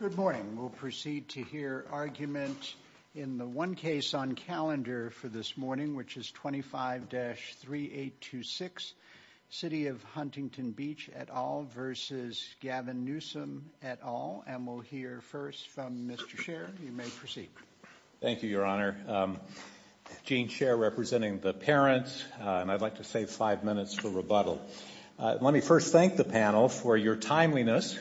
Good morning. We'll proceed to hear argument in the one case on calendar for this morning, which is 25-3826, City of Huntington Beach et al. v. Gavin Newsom et al. And we'll hear first from Mr. Sherr. You may proceed. Thank you, Your Honor. Gene Sherr, representing the parents. And I'd like to save five minutes for rebuttal. Let me first thank the panel for your timeliness.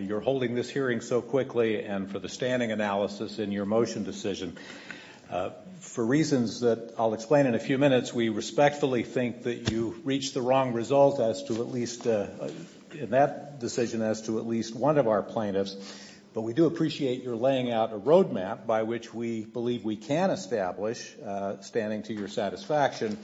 You're holding this hearing so quickly and for the standing analysis in your motion decision. For reasons that I'll explain in a few minutes, we respectfully think that you reached the wrong result in that decision as to at least one of our plaintiffs. But we do appreciate your laying out a roadmap by which we believe we can establish standing to your satisfaction.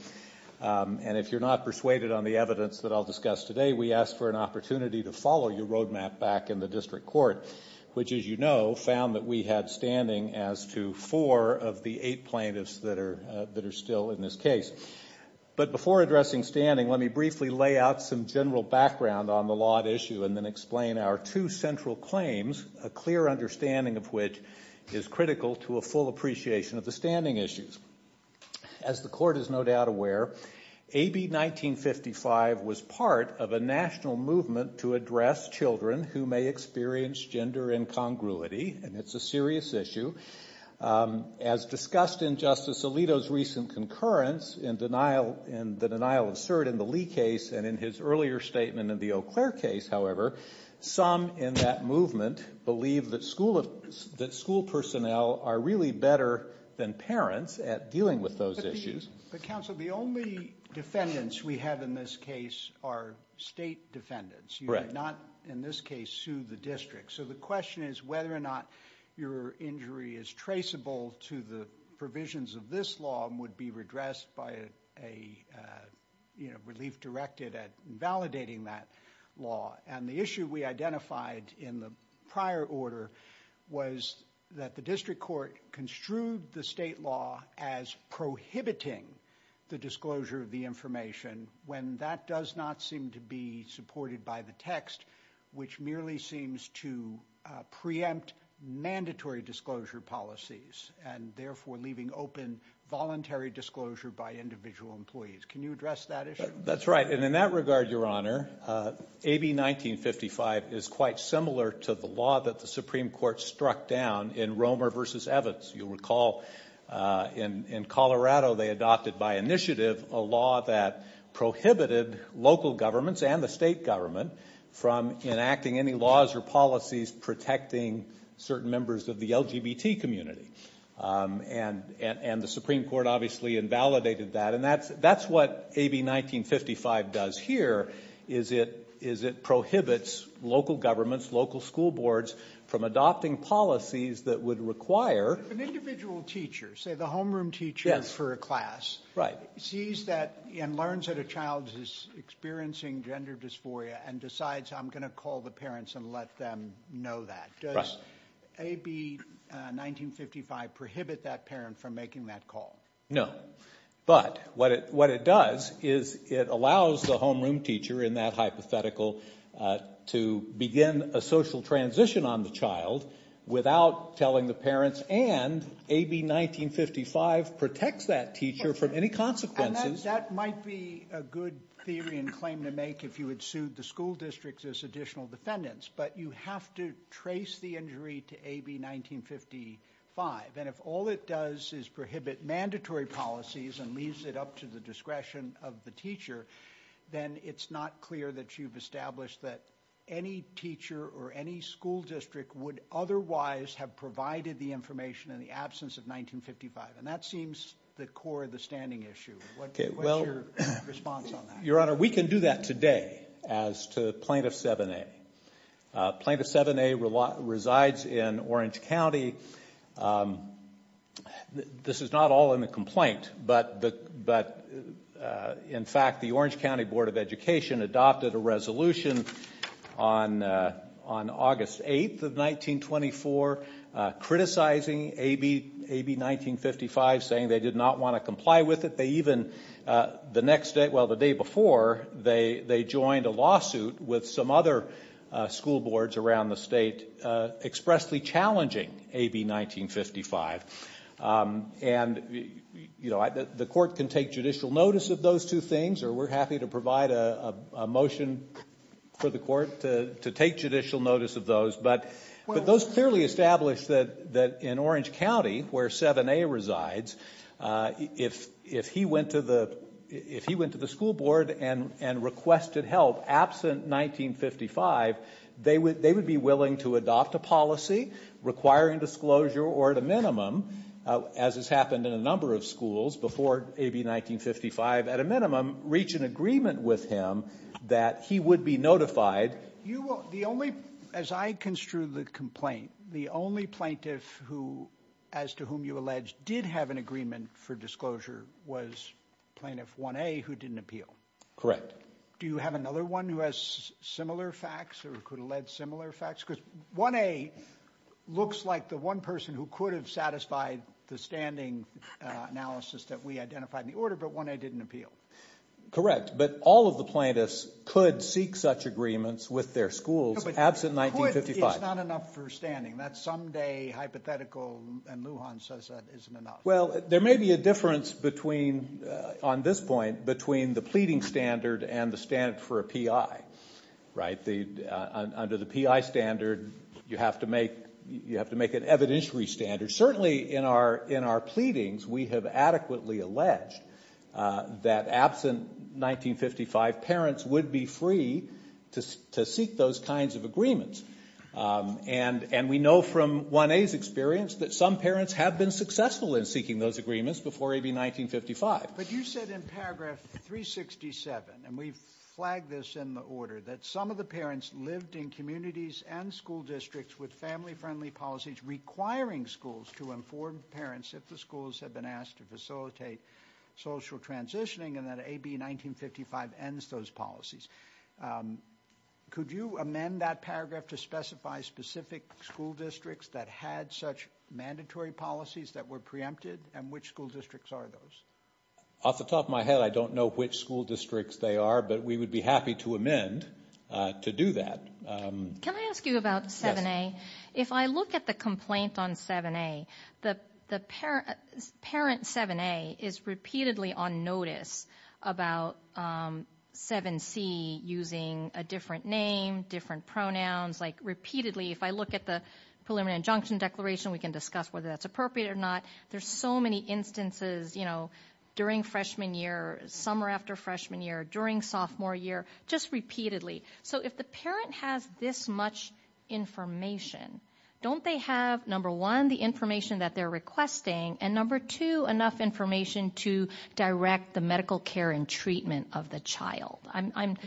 And if you're not persuaded on the evidence that I'll discuss today, we ask for an opportunity to follow your roadmap back in the district court, which, as you know, found that we had standing as to four of the eight plaintiffs that are still in this case. But before addressing standing, let me briefly lay out some general background on the law at issue and then explain our two central claims, a clear understanding of which is critical to a full appreciation of the standing issues. As the court is no doubt aware, AB 1955 was part of a national movement to address children who may experience gender incongruity. And it's a serious issue. As discussed in Justice Alito's recent concurrence in the denial of cert in the Lee case and in his earlier statement in the Eau Claire case, however, some in that movement believe that school personnel are really better than parents at dealing with those issues. But, counsel, the only defendants we have in this case are state defendants. You did not in this case sue the district. So the question is whether or not your injury is traceable to the provisions of this law and would be redressed by a relief directed at validating that law. And the issue we identified in the prior order was that the district court construed the state law as prohibiting the disclosure of the information when that does not seem to be supported by the text, which merely seems to preempt mandatory disclosure policies and therefore leaving open voluntary disclosure by individual employees. Can you address that issue? That's right. And in that regard, Your Honor, AB 1955 is quite similar to the law that the Supreme Court struck down in Romer v. Evans. You'll recall in Colorado they adopted by initiative a law that prohibited local governments and the state government from enacting any laws or policies protecting certain members of the LGBT community. And the Supreme Court obviously invalidated that. And that's what AB 1955 does here, is it prohibits local governments, local school boards, from adopting policies that would require- If an individual teacher, say the homeroom teacher for a class, sees that and learns that a child is experiencing gender dysphoria and decides I'm going to call the parents and let them know that, does AB 1955 prohibit that parent from making that call? No. But what it does is it allows the homeroom teacher in that hypothetical to begin a social transition on the child without telling the parents and AB 1955 protects that teacher from any consequences. And that might be a good theory and claim to make if you had sued the school districts as additional defendants. But you have to trace the injury to AB 1955. And if all it does is prohibit mandatory policies and leaves it up to the discretion of the teacher, then it's not clear that you've established that any teacher or any school district would otherwise have provided the information in the absence of 1955. And that seems the core of the standing issue. What's your response on that? Your Honor, we can do that today as to Plaintiff 7A. Plaintiff 7A resides in Orange County. This is not all in the complaint, but, in fact, the Orange County Board of Education adopted a resolution on August 8th of 1924 criticizing AB 1955, saying they did not want to comply with it. The day before, they joined a lawsuit with some other school boards around the state expressly challenging AB 1955. The Court can take judicial notice of those two things, or we're happy to provide a motion for the Court to take judicial notice of those. But those clearly establish that in Orange County, where 7A resides, if he went to the school board and requested help absent 1955, they would be willing to adopt a policy requiring disclosure or, at a minimum, as has happened in a number of schools before AB 1955, at a minimum reach an agreement with him that he would be notified. You will, the only, as I construe the complaint, the only plaintiff who, as to whom you allege, did have an agreement for disclosure was Plaintiff 1A who didn't appeal. Do you have another one who has similar facts or could allege similar facts? Because 1A looks like the one person who could have satisfied the standing analysis that we identified in the order, but 1A didn't appeal. Correct. But all of the plaintiffs could seek such agreements with their schools absent 1955. It's not enough for standing. That someday hypothetical in Lujan says that isn't enough. Well, there may be a difference between, on this point, between the pleading standard and the standard for a PI. Right? Under the PI standard, you have to make an evidentiary standard. Certainly in our pleadings, we have adequately alleged that absent 1955, parents would be free to seek those kinds of agreements. And we know from 1A's experience that some parents have been successful in seeking those agreements before AB 1955. But you said in paragraph 367, and we've flagged this in the order, that some of the parents lived in communities and school districts with family-friendly policies requiring schools to inform parents if the schools had been asked to facilitate social transitioning and that AB 1955 ends those policies. Could you amend that paragraph to specify specific school districts that had such mandatory policies that were preempted, and which school districts are those? Off the top of my head, I don't know which school districts they are, but we would be happy to amend to do that. Can I ask you about 7A? Yes. If I look at the complaint on 7A, the parent 7A is repeatedly on notice about 7C using a different name, different pronouns, like repeatedly. If I look at the preliminary injunction declaration, we can discuss whether that's appropriate or not. There's so many instances during freshman year, summer after freshman year, during sophomore year, just repeatedly. So if the parent has this much information, don't they have, number one, the information that they're requesting, and number two, enough information to direct the medical care and treatment of the child? I'm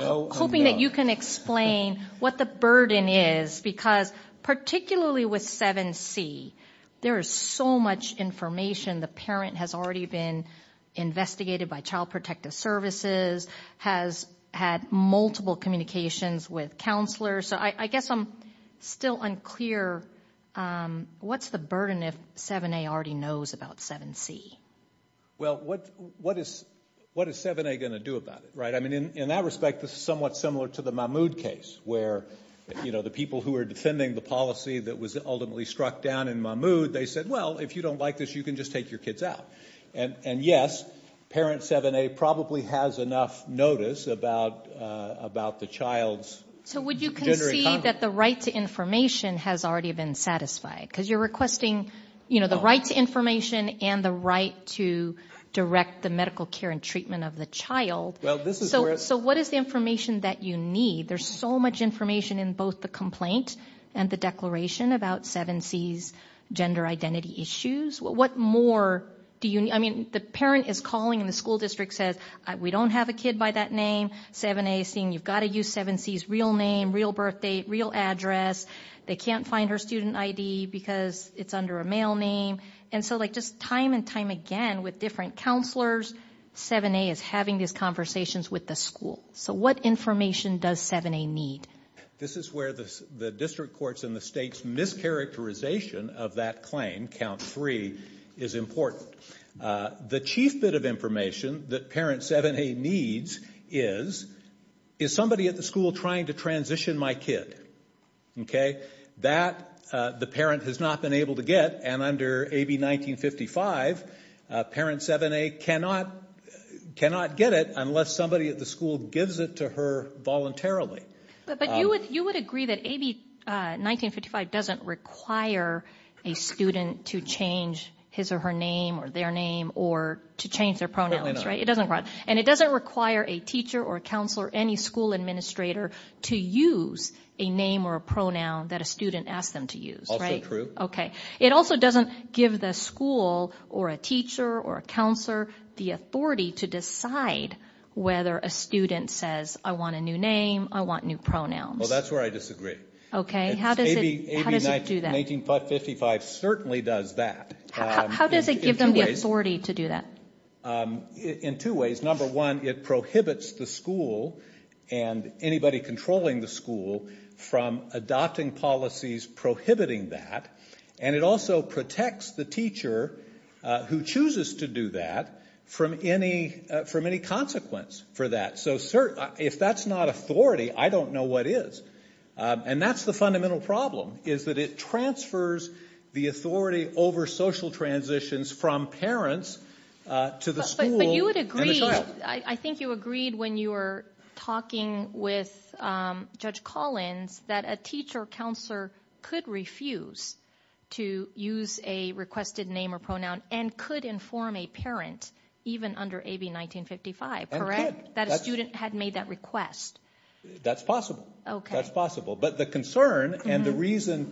hoping that you can explain what the burden is, because particularly with 7C, there is so much information. The parent has already been investigated by Child Protective Services, has had multiple communications with counselors. So I guess I'm still unclear. What's the burden if 7A already knows about 7C? Well, what is 7A going to do about it? I mean, in that respect, this is somewhat similar to the Mahmoud case, where the people who were defending the policy that was ultimately struck down in Mahmoud, they said, well, if you don't like this, you can just take your kids out. And, yes, parent 7A probably has enough notice about the child's gender economy. So would you concede that the right to information has already been satisfied? Because you're requesting the right to information and the right to direct the medical care and treatment of the child. So what is the information that you need? There's so much information in both the complaint and the declaration about 7C's gender identity issues. What more do you need? I mean, the parent is calling and the school district says, we don't have a kid by that name. 7A is saying, you've got to use 7C's real name, real birth date, real address. They can't find her student ID because it's under a male name. And so, like, just time and time again with different counselors, 7A is having these conversations with the school. So what information does 7A need? This is where the district courts and the state's mischaracterization of that claim, count three, is important. The chief bit of information that parent 7A needs is, is somebody at the school trying to transition my kid. Okay? That the parent has not been able to get. And under AB1955, parent 7A cannot get it unless somebody at the school gives it to her voluntarily. But you would agree that AB1955 doesn't require a student to change his or her name or their name or to change their pronouns, right? It doesn't require. And it doesn't require a teacher or a counselor, any school administrator to use a name or a pronoun that a student asks them to use, right? Also true. Okay. It also doesn't give the school or a teacher or a counselor the authority to decide whether a student says, I want a new name, I want new pronouns. Well, that's where I disagree. Okay. How does it do that? AB1955 certainly does that. How does it give them the authority to do that? In two ways. Number one, it prohibits the school and anybody controlling the school from adopting policies prohibiting that. And it also protects the teacher who chooses to do that from any consequence for that. So if that's not authority, I don't know what is. And that's the fundamental problem, is that it transfers the authority over social transitions from parents to the school and the child. But you would agree, I think you agreed when you were talking with Judge Collins, that a teacher or counselor could refuse to use a requested name or pronoun and could inform a parent, even under AB1955, correct? That a student had made that request. That's possible. Okay. That's possible. But the concern and the reason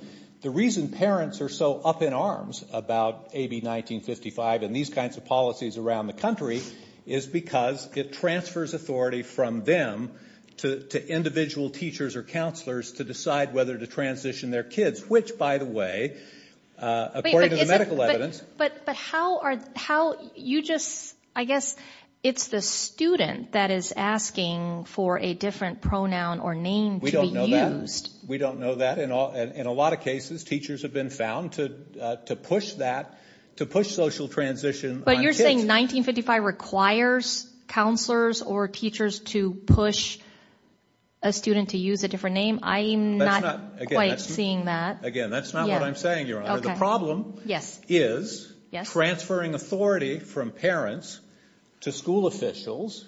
parents are so up in arms about AB1955 and these kinds of policies around the country is because it transfers authority from them to individual teachers or counselors to decide whether to transition their kids, which, by the way, according to the medical evidence. But how are you just, I guess it's the student that is asking for a different pronoun or name to be used. We don't know that. In a lot of cases, teachers have been found to push that, to push social transition on kids. But you're saying 1955 requires counselors or teachers to push a student to use a different name? I'm not quite seeing that. Again, that's not what I'm saying, Your Honor. The problem is transferring authority from parents to school officials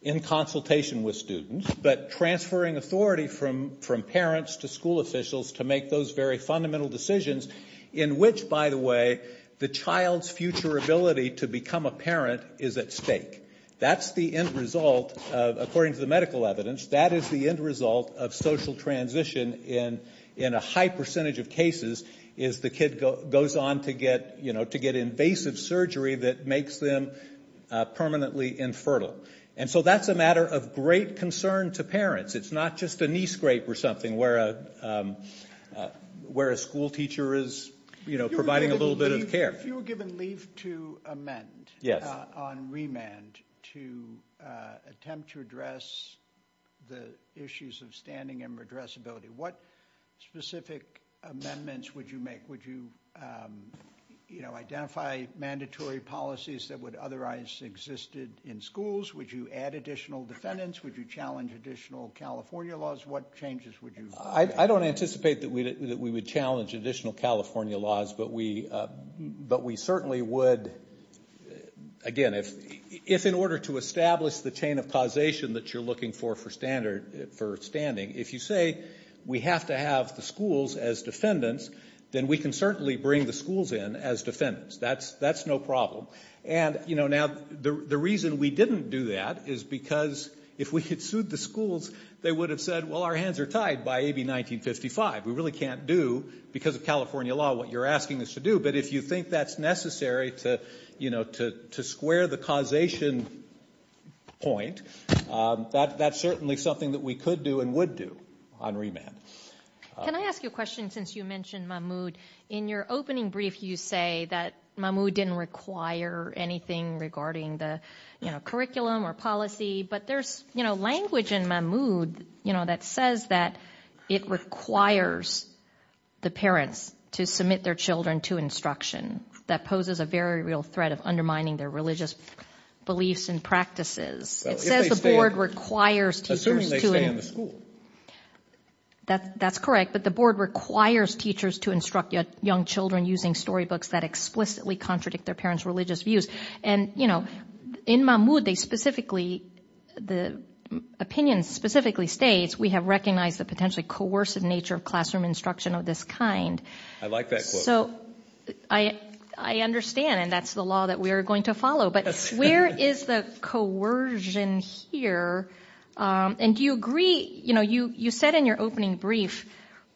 in consultation with students, but transferring authority from parents to school officials to make those very fundamental decisions in which, by the way, the child's future ability to become a parent is at stake. That's the end result, according to the medical evidence, that is the end result of social transition in a high percentage of cases is the kid goes on to get invasive surgery that makes them permanently infertile. And so that's a matter of great concern to parents. It's not just a knee scrape or something where a school teacher is providing a little bit of care. If you were given leave to amend on remand to attempt to address the issues of standing and redressability, what specific amendments would you make? Would you identify mandatory policies that would otherwise have existed in schools? Would you add additional defendants? Would you challenge additional California laws? What changes would you make? I don't anticipate that we would challenge additional California laws, but we certainly would, again, if in order to establish the chain of causation that you're looking for for standing, if you say we have to have the schools as defendants, then we can certainly bring the schools in as defendants. That's no problem. Now, the reason we didn't do that is because if we had sued the schools, they would have said, well, our hands are tied by AB1955. We really can't do because of California law what you're asking us to do. But if you think that's necessary to square the causation point, that's certainly something that we could do and would do on remand. Can I ask you a question since you mentioned Mahmoud? In your opening brief, you say that Mahmoud didn't require anything regarding the curriculum or policy, but there's language in Mahmoud that says that it requires the parents to submit their children to instruction. That poses a very real threat of undermining their religious beliefs and practices. It says the board requires teachers to- Assuming they stay in the school. That's correct. But the board requires teachers to instruct young children using storybooks that explicitly contradict their parents' religious views. And in Mahmoud, the opinion specifically states, we have recognized the potentially coercive nature of classroom instruction of this kind. I like that quote. So I understand, and that's the law that we are going to follow. But where is the coercion here? And do you agree, you said in your opening brief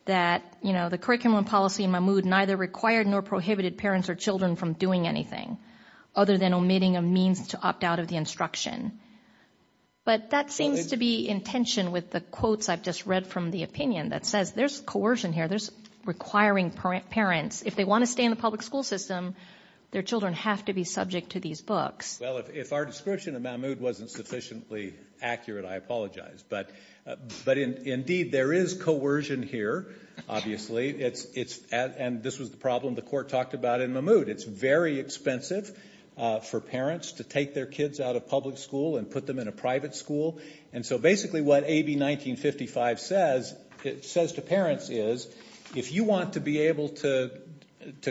that the curriculum and policy in Mahmoud neither required nor prohibited parents or children from doing anything other than omitting a means to opt out of the instruction. But that seems to be in tension with the quotes I've just read from the opinion that says there's coercion here. There's requiring parents, if they want to stay in the public school system, their children have to be subject to these books. Well, if our description of Mahmoud wasn't sufficiently accurate, I apologize. But indeed there is coercion here, obviously. And this was the problem the court talked about in Mahmoud. It's very expensive for parents to take their kids out of public school and put them in a private school. And so basically what AB 1955 says, it says to parents, is if you want to be able to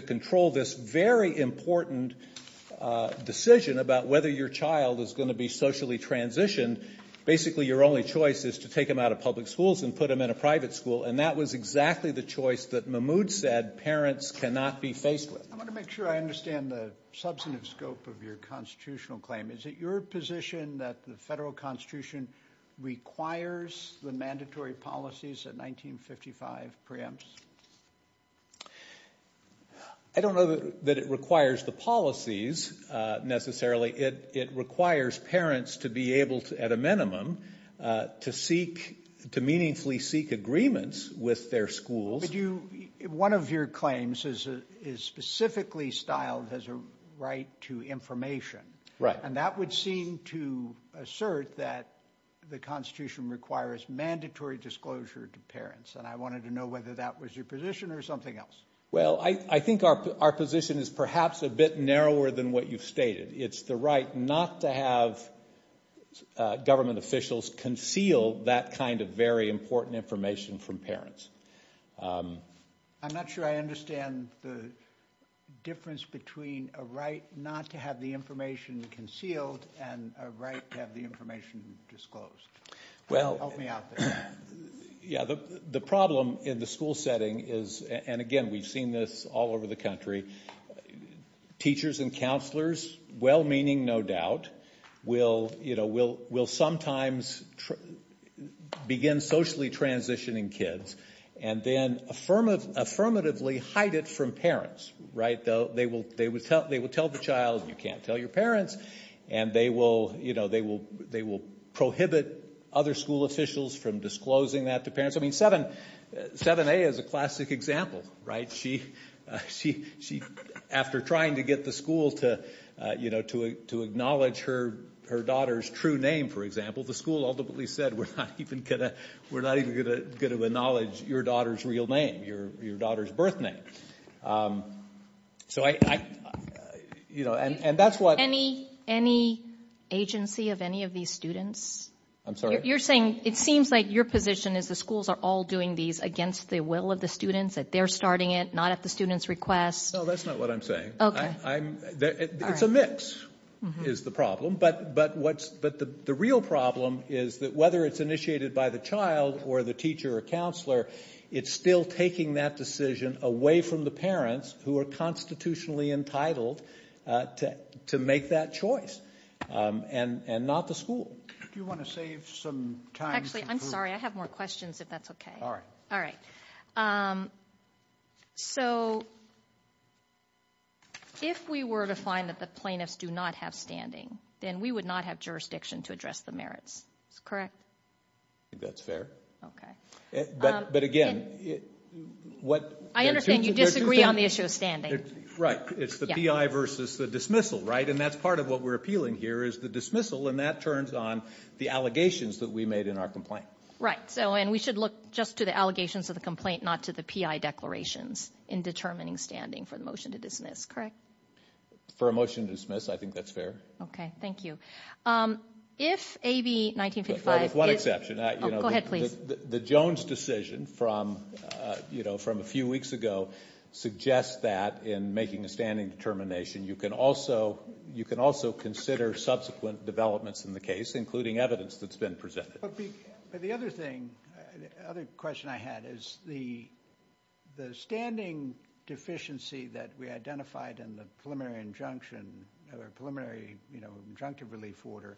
control this very important decision about whether your child is going to be socially transitioned, basically your only choice is to take them out of public schools and put them in a private school. And that was exactly the choice that Mahmoud said parents cannot be faced with. I want to make sure I understand the substantive scope of your constitutional claim. Is it your position that the federal constitution requires the mandatory policies that 1955 preempts? I don't know that it requires the policies necessarily. It requires parents to be able, at a minimum, to meaningfully seek agreements with their schools. One of your claims is specifically styled as a right to information. Right. And that would seem to assert that the constitution requires mandatory disclosure to parents. And I wanted to know whether that was your position or something else. Well, I think our position is perhaps a bit narrower than what you've stated. It's the right not to have government officials conceal that kind of very important information from parents. I'm not sure I understand the difference between a right not to have the information concealed and a right to have the information disclosed. Help me out there. Yeah, the problem in the school setting is, and again, we've seen this all over the country, teachers and counselors, well-meaning, no doubt, will sometimes begin socially transitioning kids and then affirmatively hide it from parents. They will tell the child, you can't tell your parents, and they will prohibit other school officials from disclosing that to parents. I mean, 7A is a classic example. Right? after trying to get the school to acknowledge her daughter's true name, for example, the school ultimately said, we're not even going to acknowledge your daughter's real name, your daughter's birth name. Any agency of any of these students? I'm sorry? You're saying it seems like your position is the schools are all doing these against the will of the students, that they're starting it, not at the student's request? No, that's not what I'm saying. Okay. It's a mix, is the problem, but the real problem is that whether it's initiated by the child or the teacher or counselor, it's still taking that decision away from the parents who are constitutionally entitled to make that choice, and not the school. Do you want to save some time? Actually, I'm sorry, I have more questions, if that's okay. All right. So if we were to find that the plaintiffs do not have standing, then we would not have jurisdiction to address the merits. Is that correct? I think that's fair. Okay. But, again, what I understand you disagree on the issue of standing. Right. It's the PI versus the dismissal, right? And that's part of what we're appealing here is the dismissal, and that turns on the allegations that we made in our complaint. Right. And we should look just to the allegations of the complaint, not to the PI declarations in determining standing for the motion to dismiss, correct? For a motion to dismiss, I think that's fair. Okay. Thank you. If AB 1955 is With one exception. Go ahead, please. The Jones decision from a few weeks ago suggests that in making a standing determination, you can also consider subsequent developments in the case, including evidence that's been presented. But the other thing, the other question I had is the standing deficiency that we identified in the preliminary injunction, preliminary injunctive relief order,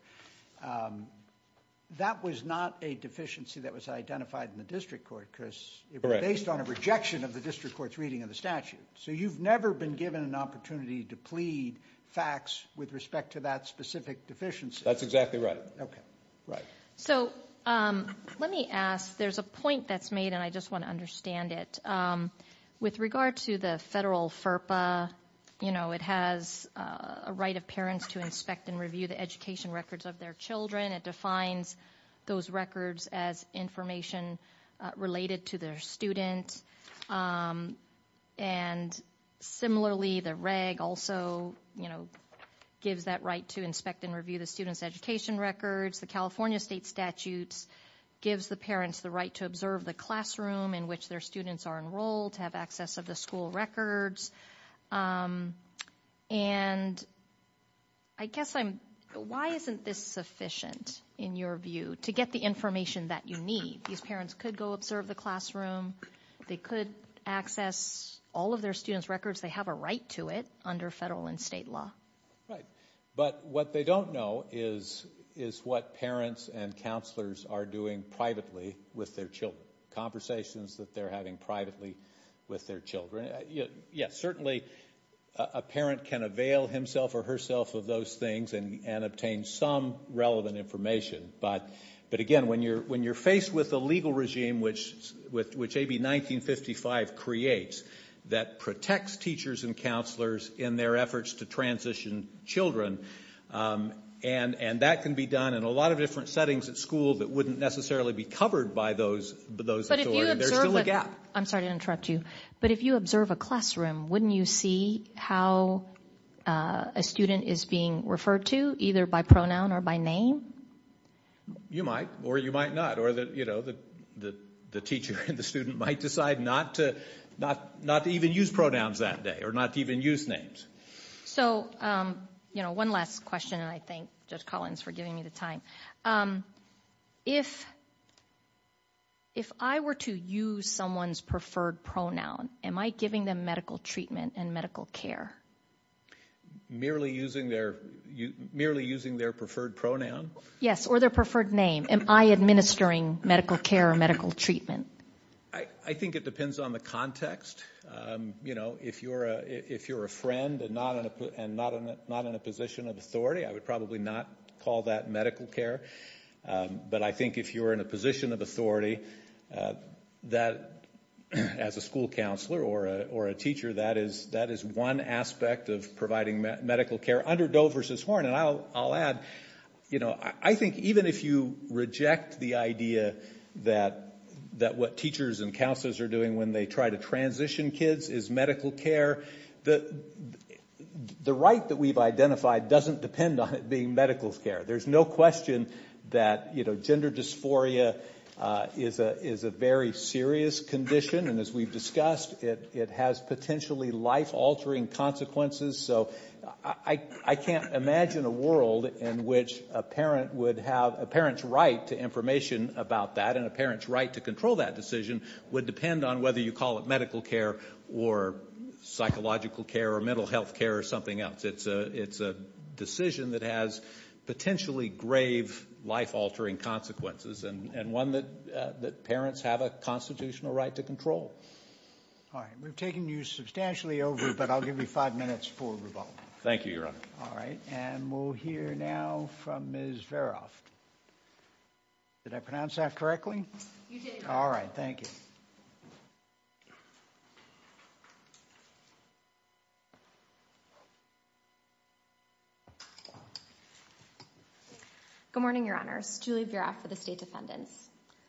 that was not a deficiency that was identified in the district court, because it was based on a rejection of the district court's reading of the statute. So you've never been given an opportunity to plead facts with respect to that specific deficiency. That's exactly right. Okay. Right. So let me ask, there's a point that's made and I just want to understand it. With regard to the federal FERPA, you know, it has a right of parents to inspect and review the education records of their children. It defines those records as information related to their students. And similarly, the reg also gives that right to inspect and review the students' education records. The California state statutes gives the parents the right to observe the classroom in which their students are enrolled, have access of the school records. And I guess I'm, why isn't this sufficient, in your view, to get the information that you need? These parents could go observe the classroom. They could access all of their students' records. They have a right to it under federal and state law. But what they don't know is what parents and counselors are doing privately with their children, conversations that they're having privately with their children. Yes, certainly a parent can avail himself or herself of those things and obtain some relevant information. But again, when you're faced with a legal regime, which AB 1955 creates, that protects teachers and counselors in their efforts to transition children, and that can be done in a lot of different settings at school that wouldn't necessarily be covered by those authorities. There's still a gap. I'm sorry to interrupt you, but if you observe a classroom, wouldn't you see how a student is being referred to, either by pronoun or by name? You might, or you might not, or the teacher and the student might decide not to even use pronouns that day, or not to even use names. So one last question, and I thank Judge Collins for giving me the time. If I were to use someone's preferred pronoun, am I giving them medical treatment and medical care? Merely using their preferred pronoun? Yes, or their preferred name. Am I administering medical care or medical treatment? I think it depends on the context. You know, if you're a friend and not in a position of authority, I would probably not call that medical care. But I think if you're in a position of authority, as a school counselor or a teacher, that is one aspect of providing medical care. Under Doe v. Horn, and I'll add, I think even if you reject the idea that what teachers and counselors are doing when they try to transition kids is medical care, the right that we've identified doesn't depend on it being medical care. There's no question that gender dysphoria is a very serious condition, and as we've discussed, it has potentially life-altering consequences. So I can't imagine a world in which a parent's right to information about that and a parent's right to control that decision would depend on whether you call it medical care or psychological care or mental health care or something else. It's a decision that has potentially grave life-altering consequences and one that parents have a constitutional right to control. All right. We've taken you substantially over, but I'll give you five minutes for rebuttal. Thank you, Your Honor. All right. And we'll hear now from Ms. Veroft. Did I pronounce that correctly? You did. All right. Thank you. Good morning, Your Honors. Julie Veroft for the State Defendants.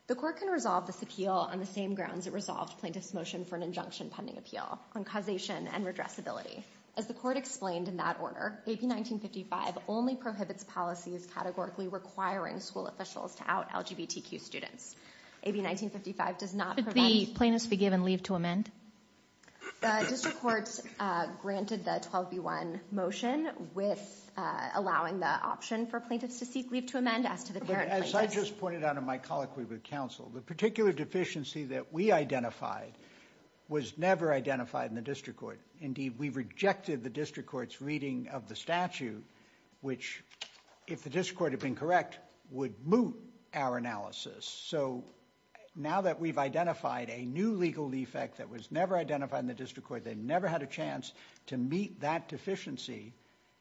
The court can resolve this appeal on the same grounds it resolved plaintiff's motion for an injunction pending appeal on causation and redressability. As the court explained in that order, AB 1955 only prohibits policies categorically requiring school officials to out LGBTQ students. AB 1955 does not provide… Could the plaintiffs be given leave to amend? The district courts granted the 12B1 motion with allowing the option for plaintiffs to seek leave to amend as to the parent plaintiffs. As I just pointed out in my colloquy with counsel, the particular deficiency that we identified was never identified in the district court. Indeed, we rejected the district court's reading of the statute, which if the district court had been correct, would moot our analysis. So, now that we've identified a new legal defect that was never identified in the district court, they never had a chance to meet that deficiency,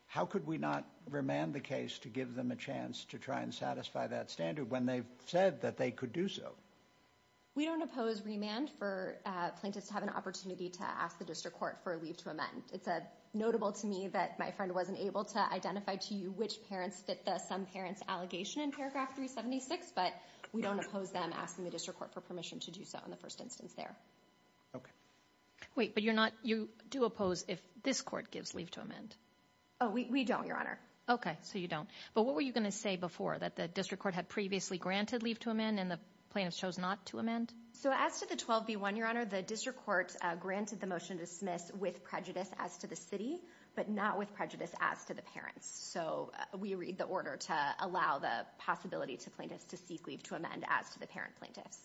how could we not remand the case to give them a chance to try and satisfy that standard when they've said that they could do so? We don't oppose remand for plaintiffs to have an opportunity to ask the district court for a leave to amend. It's notable to me that my friend wasn't able to identify to you which parents fit the some parents allegation in paragraph 376, but we don't oppose them asking the district court for permission to do so in the first instance there. Okay. Wait, but you do oppose if this court gives leave to amend. Oh, we don't, Your Honor. Okay, so you don't. But what were you going to say before, that the district court had previously granted leave to amend and the plaintiffs chose not to amend? So, as to the 12B1, Your Honor, the district court granted the motion to dismiss with prejudice as to the city, but not with prejudice as to the parents. So, we read the order to allow the possibility to plaintiffs to seek leave to amend as to the parent plaintiffs.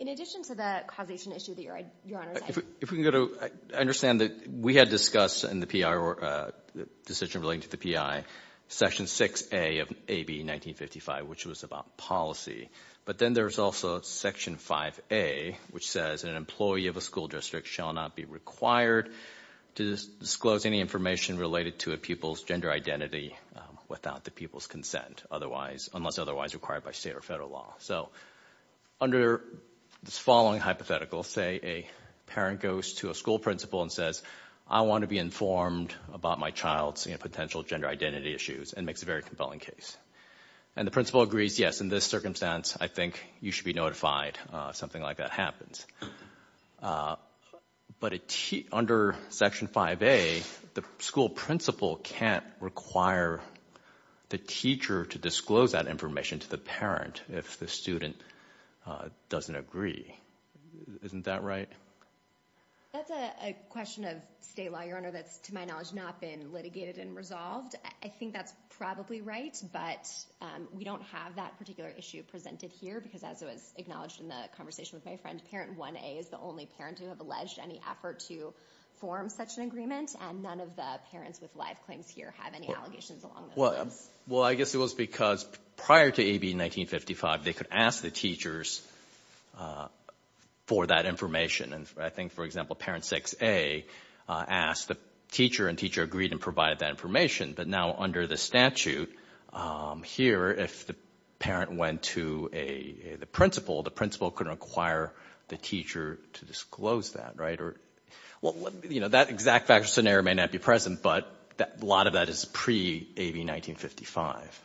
In addition to the causation issue that Your Honor is asking. If we can go to, I understand that we had discussed in the PI, the decision relating to the PI, Section 6A of AB 1955, which was about policy. But then there's also Section 5A, which says, an employee of a school district shall not be required to disclose any information related to a people's gender identity without the people's consent, unless otherwise required by state or federal law. So, under this following hypothetical, say a parent goes to a school principal and says, I want to be informed about my child's potential gender identity issues, and makes a very compelling case. And the principal agrees, yes, in this circumstance, I think you should be notified if something like that happens. But under Section 5A, the school principal can't require the teacher to disclose that information to the parent, if the student doesn't agree. Isn't that right? That's a question of state law, Your Honor, that's to my knowledge not been litigated and resolved. I think that's probably right, but we don't have that particular issue presented here, because as it was acknowledged in the conversation with my friend, Parent 1A is the only parent to have alleged any effort to form such an agreement, and none of the parents with live claims here have any allegations along those lines. Well, I guess it was because prior to AB 1955, they could ask the teachers for that information. And I think, for example, Parent 6A asked the teacher, and teacher agreed and provided that information. But now, under the statute, here, if the parent went to the principal, the principal could require the teacher to disclose that. Well, that exact fact or scenario may not be present, but a lot of that is pre-AB 1955.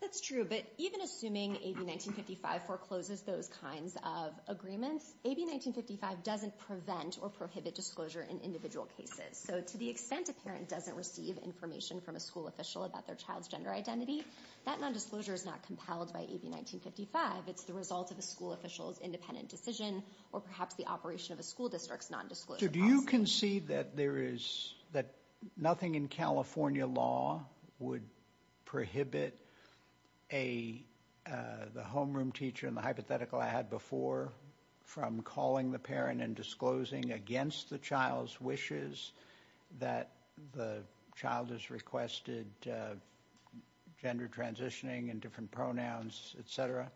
That's true, but even assuming AB 1955 forecloses those kinds of agreements, AB 1955 doesn't prevent or prohibit disclosure in individual cases. So to the extent a parent doesn't receive information from a school official about their child's gender identity, that nondisclosure is not compelled by AB 1955. It's the result of a school official's independent decision or perhaps the operation of a school district's nondisclosure policy. So do you concede that nothing in California law would prohibit the homeroom teacher and the hypothetical I had before from calling the parent and disclosing against the child's wishes that the child has requested gender transitioning and different pronouns, etc.?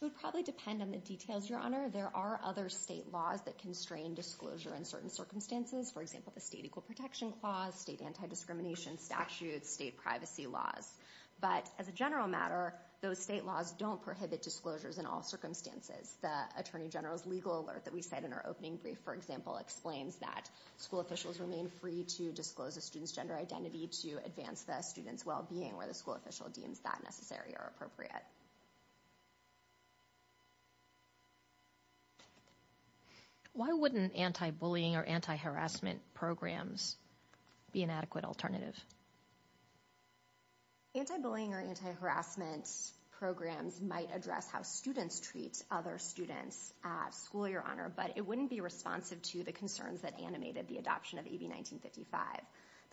It would probably depend on the details, Your Honor. There are other state laws that constrain disclosure in certain circumstances. For example, the State Equal Protection Clause, state anti-discrimination statutes, state privacy laws. But as a general matter, those state laws don't prohibit disclosures in all circumstances. The Attorney General's legal alert that we said in our opening brief, for example, explains that school officials remain free to disclose a student's gender identity to advance the student's well-being where the school official deems that necessary or appropriate. Why wouldn't anti-bullying or anti-harassment programs be an adequate alternative? Anti-bullying or anti-harassment programs might address how students treat other students at school, Your Honor, but it wouldn't be responsive to the concerns that animated the adoption of AB 1955.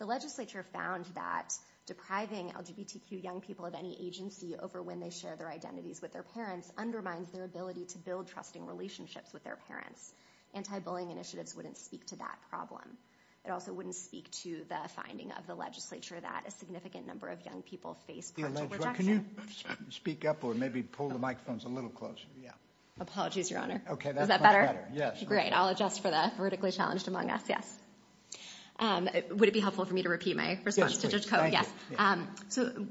The legislature found that depriving LGBTQ young people of any agency over when they share their identities with their parents undermines their ability to build trusting relationships with their parents. Anti-bullying initiatives wouldn't speak to that problem. It also wouldn't speak to the finding of the legislature that a significant number of young people face parental rejection. Can you speak up or maybe pull the microphones a little closer? Apologies, Your Honor. Is that better? Great. I'll adjust for the vertically challenged among us. Would it be helpful for me to repeat my response to Judge Coe?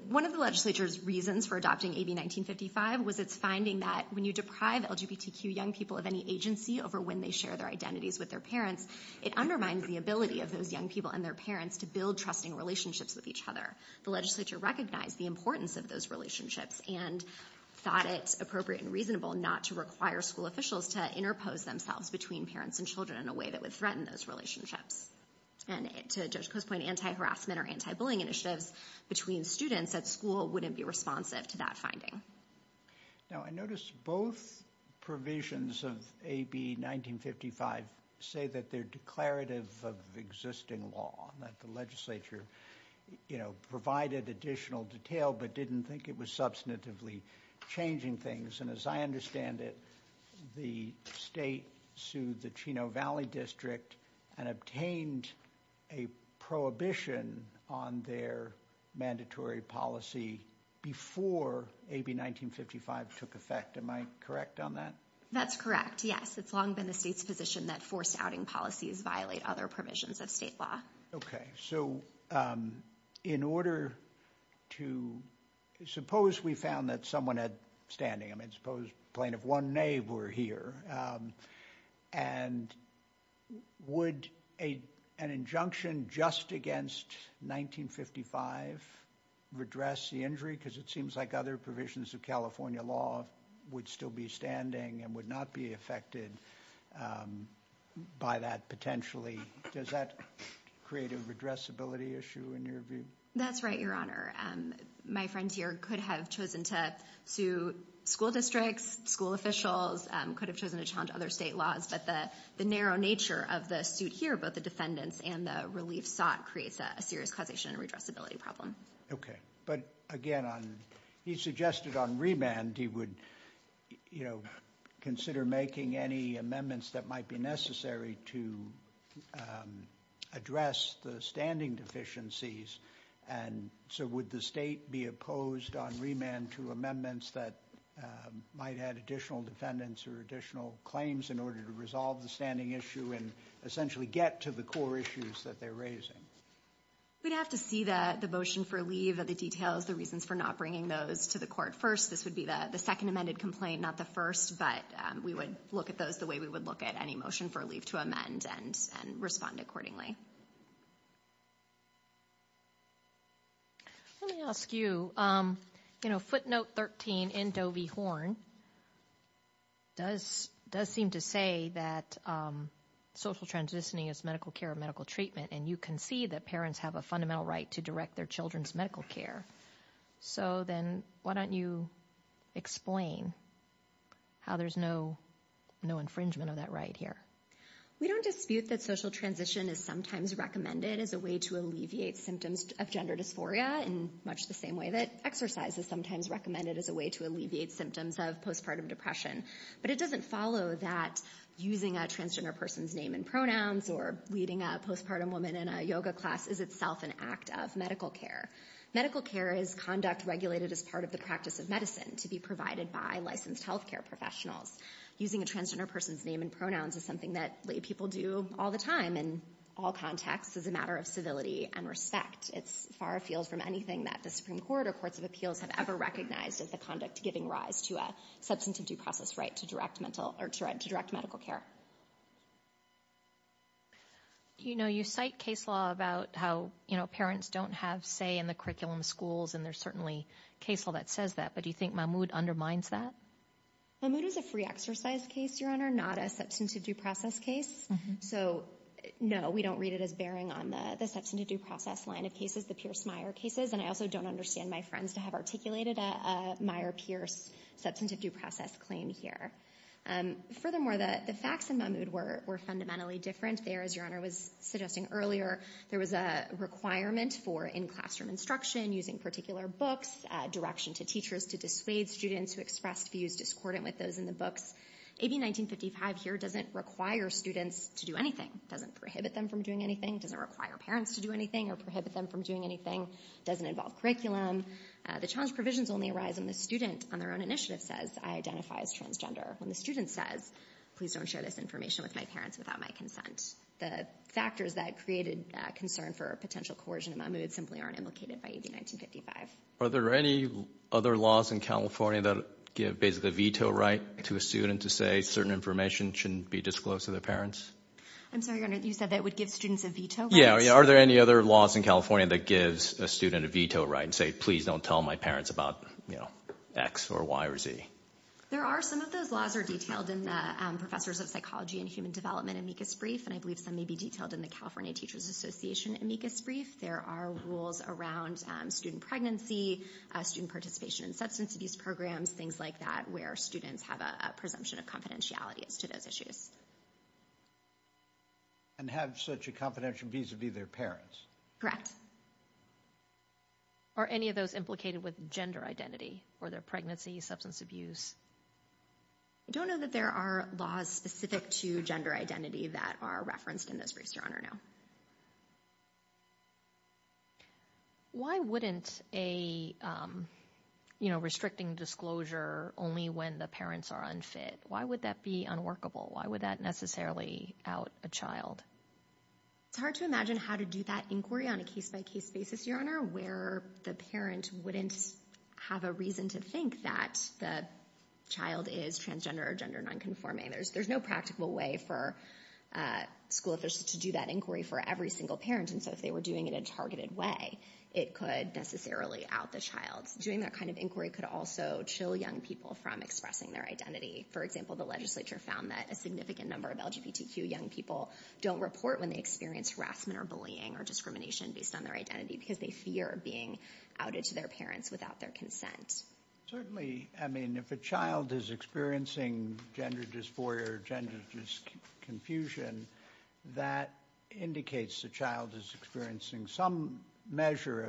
One of the legislature's reasons for adopting AB 1955 was its finding that when you deprive LGBTQ young people of any agency over when they share their identities with their parents, it undermines the ability of those young people and their parents to build trusting relationships with each other. The legislature recognized the importance of those relationships and thought it appropriate and reasonable not to require school officials to interpose themselves between parents and children in a way that would threaten those relationships. And to Judge Coe's point, anti-harassment or anti-bullying initiatives between students at school wouldn't be responsive to that finding. Now, I notice both provisions of AB 1955 say that they're declarative of existing law, that the legislature provided additional detail but didn't think it was substantively changing things. And as I understand it, the state sued the Chino Valley District and obtained a prohibition on their mandatory policy before AB 1955 took effect. Am I correct on that? That's correct, yes. It's long been the state's position that forced outing policies violate other provisions of state law. Okay, so in order to – suppose we found that someone had standing. I mean, suppose plain of one name were here. And would an injunction just against 1955 redress the injury? Because it seems like other provisions of California law would still be standing and would not be affected by that potentially. Does that create a redressability issue in your view? That's right, Your Honor. My friend here could have chosen to sue school districts, school officials, could have chosen to challenge other state laws. But the narrow nature of the suit here, both the defendants and the relief sought, creates a serious causation and redressability problem. Okay, but again, he suggested on remand he would consider making any amendments that might be necessary to address the standing deficiencies. And so would the state be opposed on remand to amendments that might add additional defendants or additional claims in order to resolve the standing issue and essentially get to the core issues that they're raising? We'd have to see the motion for leave, the details, the reasons for not bringing those to the court first. This would be the second amended complaint, not the first. But we would look at those the way we would look at any motion for leave to amend and respond accordingly. Let me ask you, you know, footnote 13 in Doe v. Horn does seem to say that social transitioning is medical care and medical treatment. And you concede that parents have a fundamental right to direct their children's medical care. So then why don't you explain how there's no infringement of that right here? We don't dispute that social transition is sometimes recommended as a way to alleviate symptoms of gender dysphoria in much the same way that exercise is sometimes recommended as a way to alleviate symptoms of postpartum depression. But it doesn't follow that using a transgender person's name and pronouns or leading a postpartum woman in a yoga class is itself an act of medical care. Medical care is conduct regulated as part of the practice of medicine to be provided by licensed healthcare professionals. Using a transgender person's name and pronouns is something that people do all the time in all contexts as a matter of civility and respect. It's far afield from anything that the Supreme Court or courts of appeals have ever recognized as the conduct giving rise to a substantive due process right to direct medical care. You know, you cite case law about how, you know, parents don't have say in the curriculum schools. And there's certainly case law that says that. But do you think Mahmoud undermines that? Mahmoud is a free exercise case, Your Honor, not a substantive due process case. So, no, we don't read it as bearing on the substantive due process line of cases, the Pierce-Meyer cases. And I also don't understand my friends to have articulated a Meyer-Pierce substantive due process claim here. Furthermore, the facts in Mahmoud were fundamentally different. There, as Your Honor was suggesting earlier, there was a requirement for in-classroom instruction, using particular books, direction to teachers to dissuade students who expressed views discordant with those in the books. AB 1955 here doesn't require students to do anything. It doesn't prohibit them from doing anything. It doesn't require parents to do anything or prohibit them from doing anything. It doesn't involve curriculum. The challenge provisions only arise when the student on their own initiative says, I identify as transgender. When the student says, please don't share this information with my parents without my consent. The factors that created concern for potential coercion in Mahmoud simply aren't implicated by AB 1955. Are there any other laws in California that give basically a veto right to a student to say certain information shouldn't be disclosed to their parents? I'm sorry, Your Honor, you said that it would give students a veto right? Yeah, are there any other laws in California that gives a student a veto right and say, please don't tell my parents about, you know, X or Y or Z? There are some of those laws are detailed in the professors of psychology and human development amicus brief, and I believe some may be detailed in the California Teachers Association amicus brief. There are rules around student pregnancy, student participation in substance abuse programs, things like that where students have a presumption of confidentiality as to those issues. And have such a confidential visa be their parents. Correct. Are any of those implicated with gender identity or their pregnancy, substance abuse? I don't know that there are laws specific to gender identity that are referenced in this brief, Your Honor, no. Why wouldn't a, you know, restricting disclosure only when the parents are unfit? Why would that be unworkable? Why would that necessarily out a child? It's hard to imagine how to do that inquiry on a case-by-case basis, Your Honor, where the parent wouldn't have a reason to think that the child is transgender or gender nonconforming. There's no practical way for school to do that inquiry for every single parent. And so if they were doing it in a targeted way, it could necessarily out the child. Doing that kind of inquiry could also chill young people from expressing their identity. For example, the legislature found that a significant number of LGBTQ young people don't report when they experience harassment or bullying or discrimination based on their identity because they fear being outed to their parents without their consent. Certainly, I mean, if a child is experiencing gender dysphoria or gender confusion, that indicates the child is experiencing some measure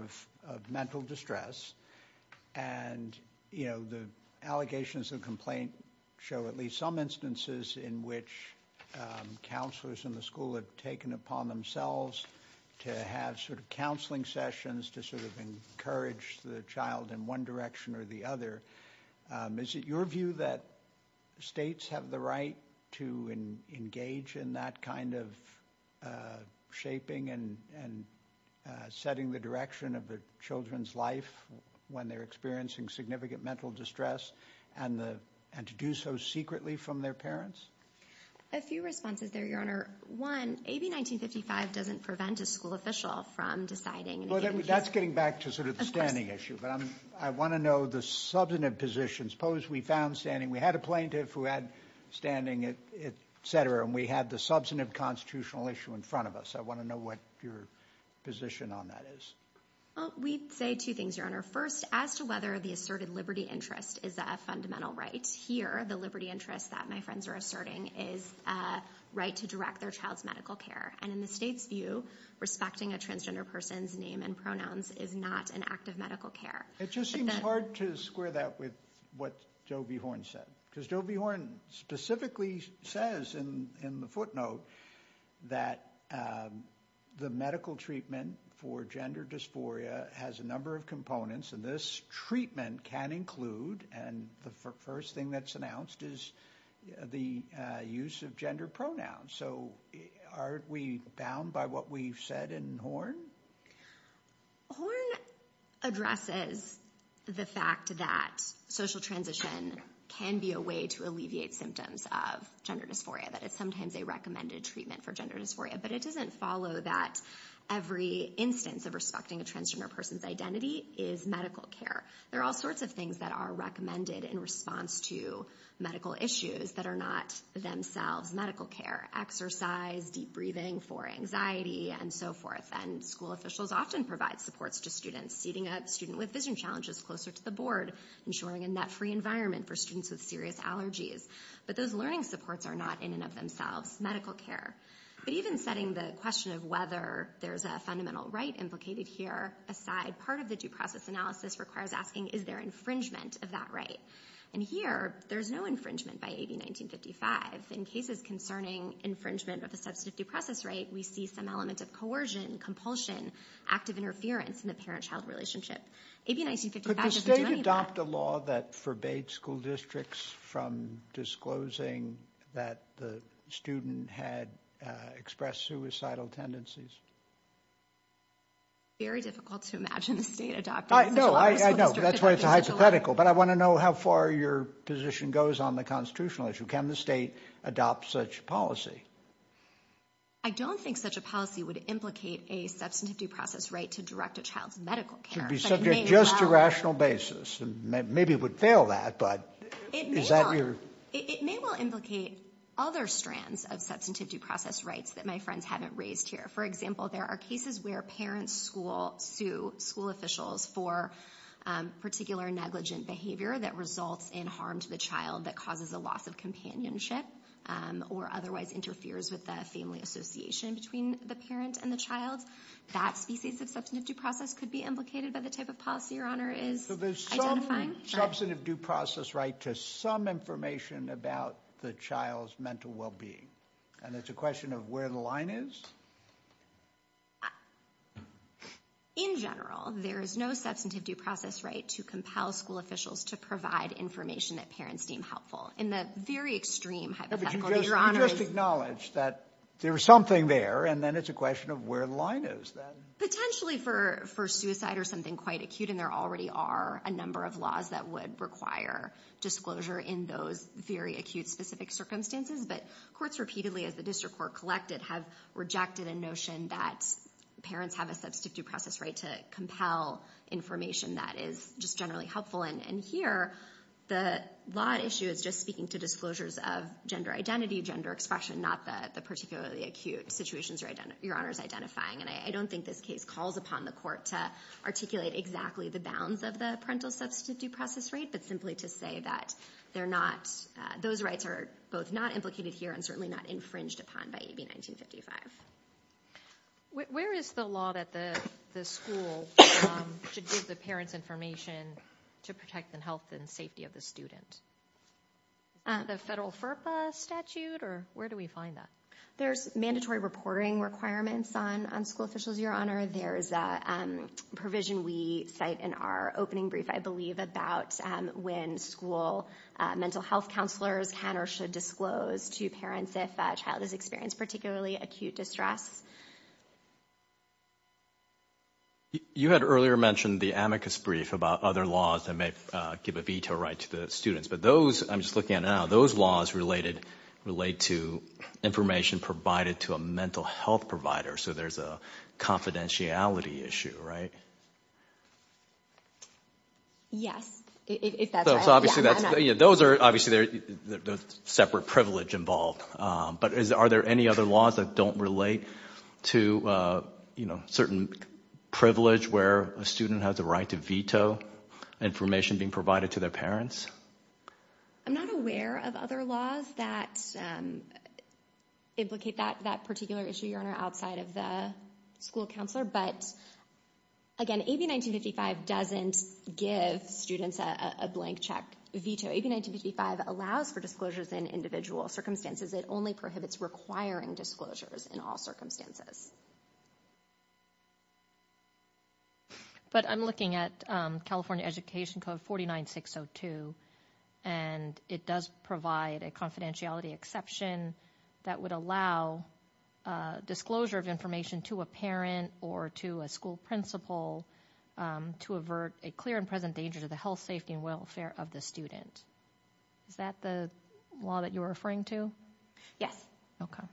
of mental distress. And, you know, the allegations of the complaint show at least some instances in which counselors in the school have taken upon themselves to have sort of counseling sessions to sort of encourage the child in one direction or the other. Is it your view that states have the right to engage in that kind of shaping and setting the direction of the children's life when they're experiencing significant mental distress and to do so secretly from their parents? A few responses there, Your Honor. One, AB 1955 doesn't prevent a school official from deciding. Well, that's getting back to sort of the standing issue. But I want to know the substantive positions. Suppose we found standing, we had a plaintiff who had standing, et cetera, and we had the substantive constitutional issue in front of us. I want to know what your position on that is. Well, we'd say two things, Your Honor. First, as to whether the asserted liberty interest is a fundamental right. Here, the liberty interest that my friends are asserting is a right to direct their child's medical care. And in the state's view, respecting a transgender person's name and pronouns is not an act of medical care. It just seems hard to square that with what Joe B. Horne said, because Joe B. Horne specifically says in the footnote that the medical treatment for gender dysphoria has a number of components, and this treatment can include, and the first thing that's announced is the use of gender pronouns. So aren't we bound by what we've said in Horne? Horne addresses the fact that social transition can be a way to alleviate symptoms of gender dysphoria, that it's sometimes a recommended treatment for gender dysphoria, but it doesn't follow that every instance of respecting a transgender person's identity is medical care. There are all sorts of things that are recommended in response to medical issues that are not themselves medical care. Exercise, deep breathing for anxiety, and so forth. And school officials often provide supports to students, seating a student with vision challenges closer to the board, ensuring a net-free environment for students with serious allergies. But those learning supports are not in and of themselves medical care. But even setting the question of whether there's a fundamental right implicated here aside, part of the due process analysis requires asking, is there infringement of that right? And here, there's no infringement by AB1955. In cases concerning infringement of a substantive due process right, we see some element of coercion, compulsion, active interference in the parent-child relationship. AB1955 doesn't do any of that. Could the state adopt a law that forbade school districts from disclosing that the student had expressed suicidal tendencies? Very difficult to imagine the state adopting such a law. No, I know. That's why it's hypothetical. But I want to know how far your position goes on the constitutional issue. Can the state adopt such a policy? I don't think such a policy would implicate a substantive due process right to direct a child's medical care. It should be subject just to rational basis. Maybe it would fail that, but is that your… It may well implicate other strands of substantive due process rights that my friends haven't raised here. For example, there are cases where parents sue school officials for particular negligent behavior that results in harm to the child that causes a loss of companionship or otherwise interferes with the family association between the parent and the child. That species of substantive due process could be implicated by the type of policy your honor is identifying. So there's some substantive due process right to some information about the child's mental well-being. And it's a question of where the line is? In general, there is no substantive due process right to compel school officials to provide information that parents deem helpful. In the very extreme hypothetical that your honor is… But you just acknowledged that there was something there, and then it's a question of where the line is. Potentially for suicide or something quite acute, and there already are a number of laws that would require disclosure in those very acute specific circumstances. But courts repeatedly, as the district court collected, have rejected a notion that parents have a substantive due process right to compel information that is just generally helpful. And here, the law issue is just speaking to disclosures of gender identity, gender expression, not the particularly acute situations your honor is identifying. And I don't think this case calls upon the court to articulate exactly the bounds of the parental substantive due process right, but simply to say that those rights are both not implicated here and certainly not infringed upon by AB 1955. Where is the law that the school should give the parents information to protect the health and safety of the student? The federal FERPA statute, or where do we find that? There's mandatory reporting requirements on school officials, your honor. There's a provision we cite in our opening brief, I believe, about when school mental health counselors can or should disclose to parents if a child has experienced particularly acute distress. You had earlier mentioned the amicus brief about other laws that may give a veto right to the students. But those, I'm just looking at now, those laws relate to information provided to a mental health provider. So there's a confidentiality issue, right? Yes, if that's right. Those are obviously separate privilege involved. But are there any other laws that don't relate to certain privilege where a student has a right to veto information being provided to their parents? I'm not aware of other laws that implicate that particular issue, your honor, outside of the school counselor. But again, AB 1955 doesn't give students a blank check veto. AB 1955 allows for disclosures in individual circumstances. It only prohibits requiring disclosures in all circumstances. But I'm looking at California Education Code 49602. And it does provide a confidentiality exception that would allow disclosure of information to a parent or to a school principal to avert a clear and present danger to the health, safety and welfare of the student. Is that the law that you're referring to? Yes. Thank you.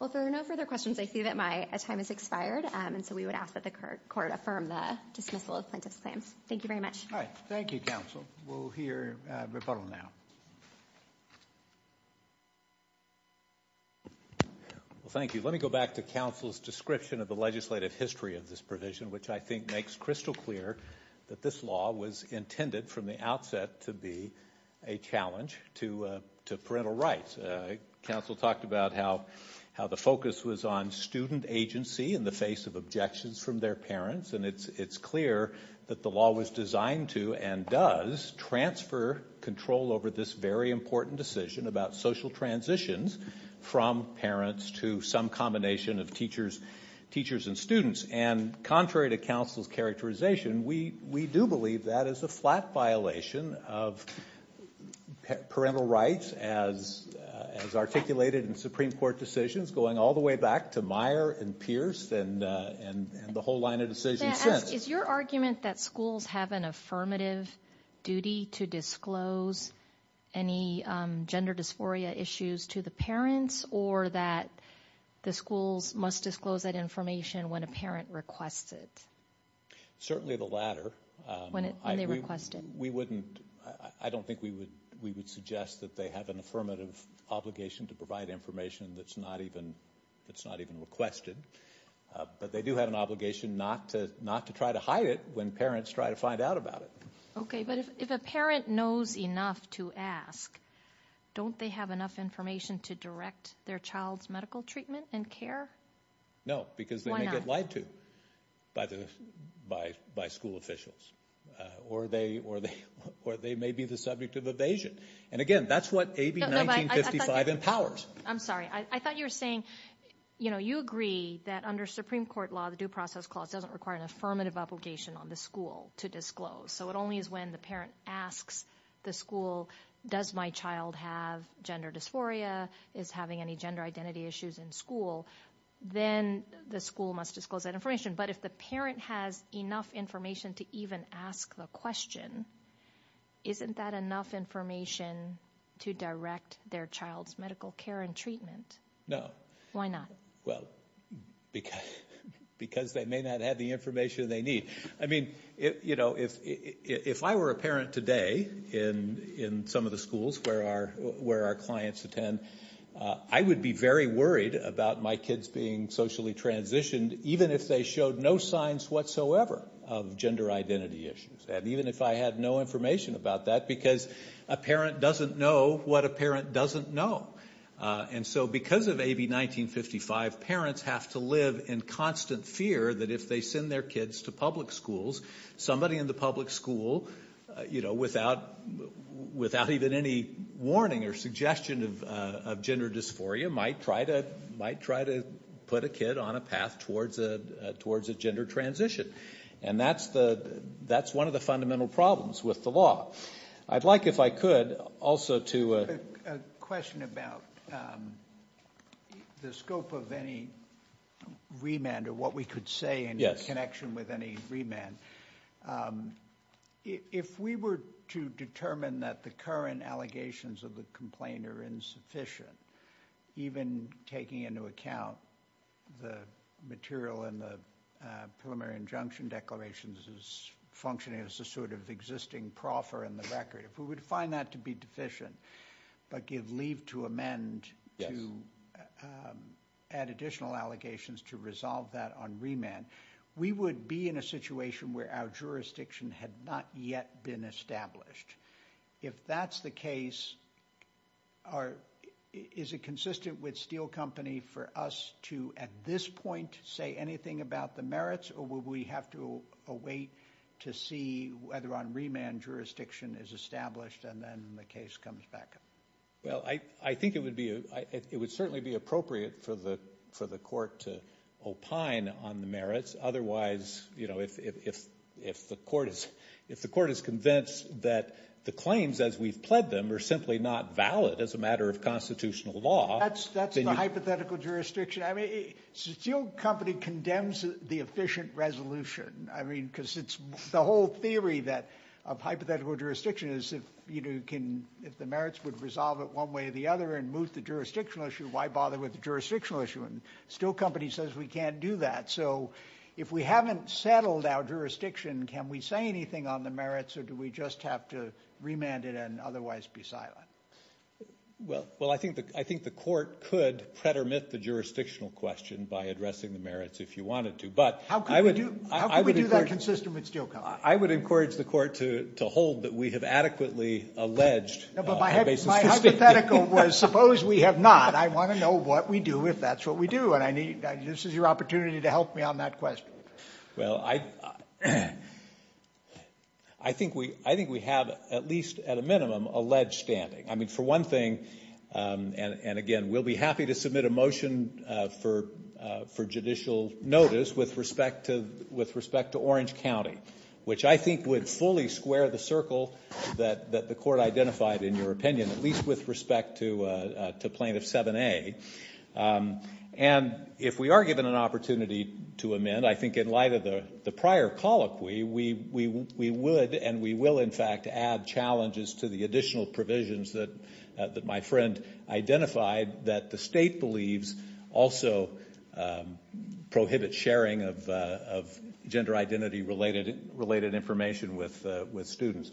Well, if there are no further questions, I see that my time has expired. And so we would ask that the court affirm the dismissal of plaintiff's claims. Thank you very much. All right. Thank you, counsel. We'll hear rebuttal now. Thank you. Let me go back to counsel's description of the legislative history of this provision, which I think makes crystal clear that this law was intended from the outset to be a challenge to parental rights. Counsel talked about how the focus was on student agency in the face of objections from their parents. And it's clear that the law was designed to and does transfer control over this very important decision about social transitions from parents to some combination of teachers and students. And contrary to counsel's characterization, we do believe that is a flat violation of parental rights as articulated in Supreme Court decisions going all the way back to Meyer and Pierce and the whole line of decisions since. Is your argument that schools have an affirmative duty to disclose any gender dysphoria issues to the parents or that the schools must disclose that information when a parent requests it? Certainly the latter. When they request it. I don't think we would suggest that they have an affirmative obligation to provide information that's not even requested. But they do have an obligation not to try to hide it when parents try to find out about it. Okay, but if a parent knows enough to ask, don't they have enough information to direct their child's medical treatment and care? No, because they may get lied to by school officials. Or they may be the subject of evasion. And again, that's what AB 1955 empowers. I'm sorry. I thought you were saying you agree that under Supreme Court law, the Due Process Clause doesn't require an affirmative obligation on the school to disclose. So it only is when the parent asks the school, does my child have gender dysphoria? Is having any gender identity issues in school? Then the school must disclose that information. But if the parent has enough information to even ask the question, isn't that enough information to direct their child's medical care and treatment? No. Why not? Well, because they may not have the information they need. I mean, you know, if I were a parent today in some of the schools where our clients attend, I would be very worried about my kids being socially transitioned, even if they showed no signs whatsoever of gender identity issues. And even if I had no information about that, because a parent doesn't know what a parent doesn't know. And so because of AB 1955, parents have to live in constant fear that if they send their kids to public schools, somebody in the public school, you know, without even any warning or suggestion of gender dysphoria, might try to put a kid on a path towards a gender transition. And that's one of the fundamental problems with the law. I'd like, if I could, also to... A question about the scope of any remand or what we could say in connection with any remand. If we were to determine that the current allegations of the complaint are insufficient, even taking into account the material in the preliminary injunction declarations is functioning as a sort of existing proffer in the record, if we would find that to be deficient, but give leave to amend to add additional allegations to resolve that on remand, we would be in a situation where our jurisdiction had not yet been established. If that's the case, is it consistent with Steel Company for us to, at this point, say anything about the merits, or would we have to await to see whether on remand jurisdiction is established and then the case comes back? Well, I think it would certainly be appropriate for the court to opine on the merits. Otherwise, you know, if the court is convinced that the claims as we've pled them are simply not valid as a matter of constitutional law... That's the hypothetical jurisdiction. I mean, Steel Company condemns the efficient resolution. I mean, because it's the whole theory of hypothetical jurisdiction is if the merits would resolve it one way or the other and move the jurisdictional issue, why bother with the jurisdictional issue? And Steel Company says we can't do that. So if we haven't settled our jurisdiction, can we say anything on the merits, or do we just have to remand it and otherwise be silent? Well, I think the court could pretermit the jurisdictional question by addressing the merits if you wanted to, but... How could we do that consistent with Steel Company? I would encourage the court to hold that we have adequately alleged... No, but my hypothetical was suppose we have not. I want to know what we do if that's what we do, and this is your opportunity to help me on that question. Well, I think we have at least at a minimum alleged standing. I mean, for one thing, and again, we'll be happy to submit a motion for judicial notice with respect to Orange County, which I think would fully square the circle that the court identified in your opinion, at least with respect to Plaintiff 7A. And if we are given an opportunity to amend, I think in light of the prior colloquy, we would and we will, in fact, add challenges to the additional provisions that my friend identified that the state believes also prohibit sharing of gender identity-related information with students.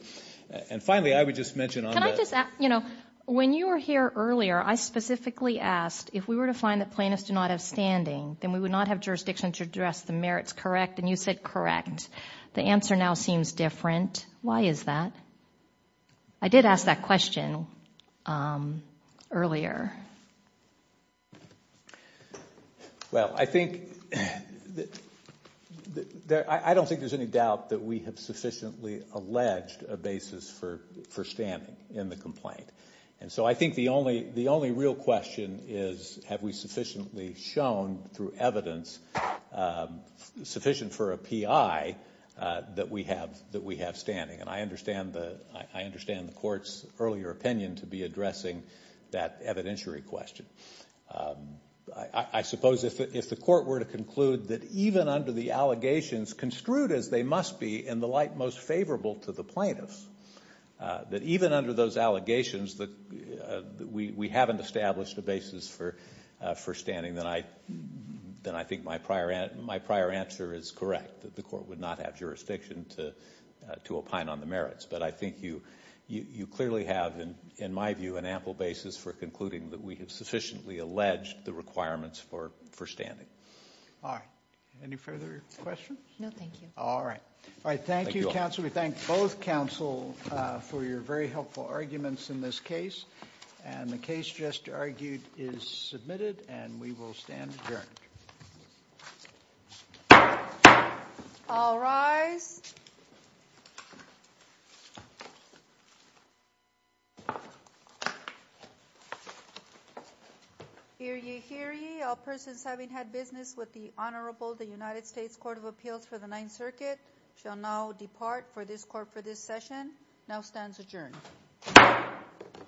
And finally, I would just mention on the... When you were here earlier, I specifically asked if we were to find that plaintiffs do not have standing, then we would not have jurisdiction to address the merits, correct? And you said correct. The answer now seems different. Why is that? I did ask that question earlier. Well, I don't think there's any doubt that we have sufficiently alleged a basis for standing in the complaint. And so I think the only real question is have we sufficiently shown through evidence, sufficient for a PI, that we have standing. And I understand the court's earlier opinion to be addressing that evidentiary question. I suppose if the court were to conclude that even under the allegations, construed as they must be in the light most favorable to the plaintiffs, that even under those allegations that we haven't established a basis for standing, then I think my prior answer is correct, that the court would not have jurisdiction to opine on the merits. But I think you clearly have, in my view, an ample basis for concluding that we have sufficiently alleged the requirements for standing. All right. Any further questions? No, thank you. All right. Thank you, counsel. We thank both counsel for your very helpful arguments in this case. And the case just argued is submitted, and we will stand adjourned. All rise. Hear ye, hear ye. All persons having had business with the Honorable the United States Court of Appeals for the Ninth Circuit shall now depart for this court for this session. Now stands adjourned. Thank you. Thank you.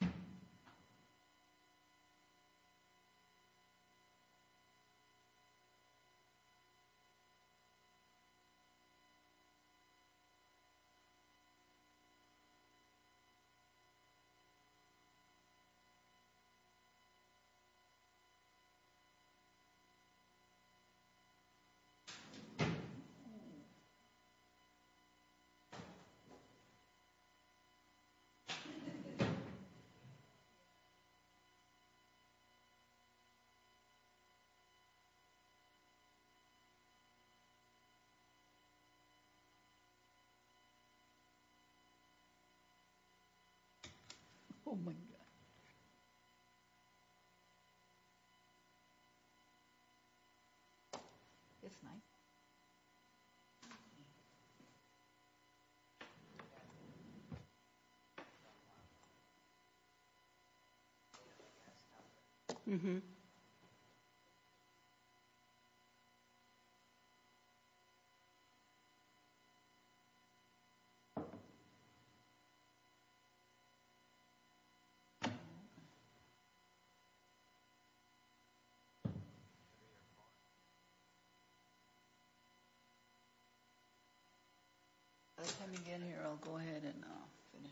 Thank you. Thank you. Thank you. Oh, my God. It's nice. Mm hmm. Let me get here. I'll go ahead and finish. Mm hmm.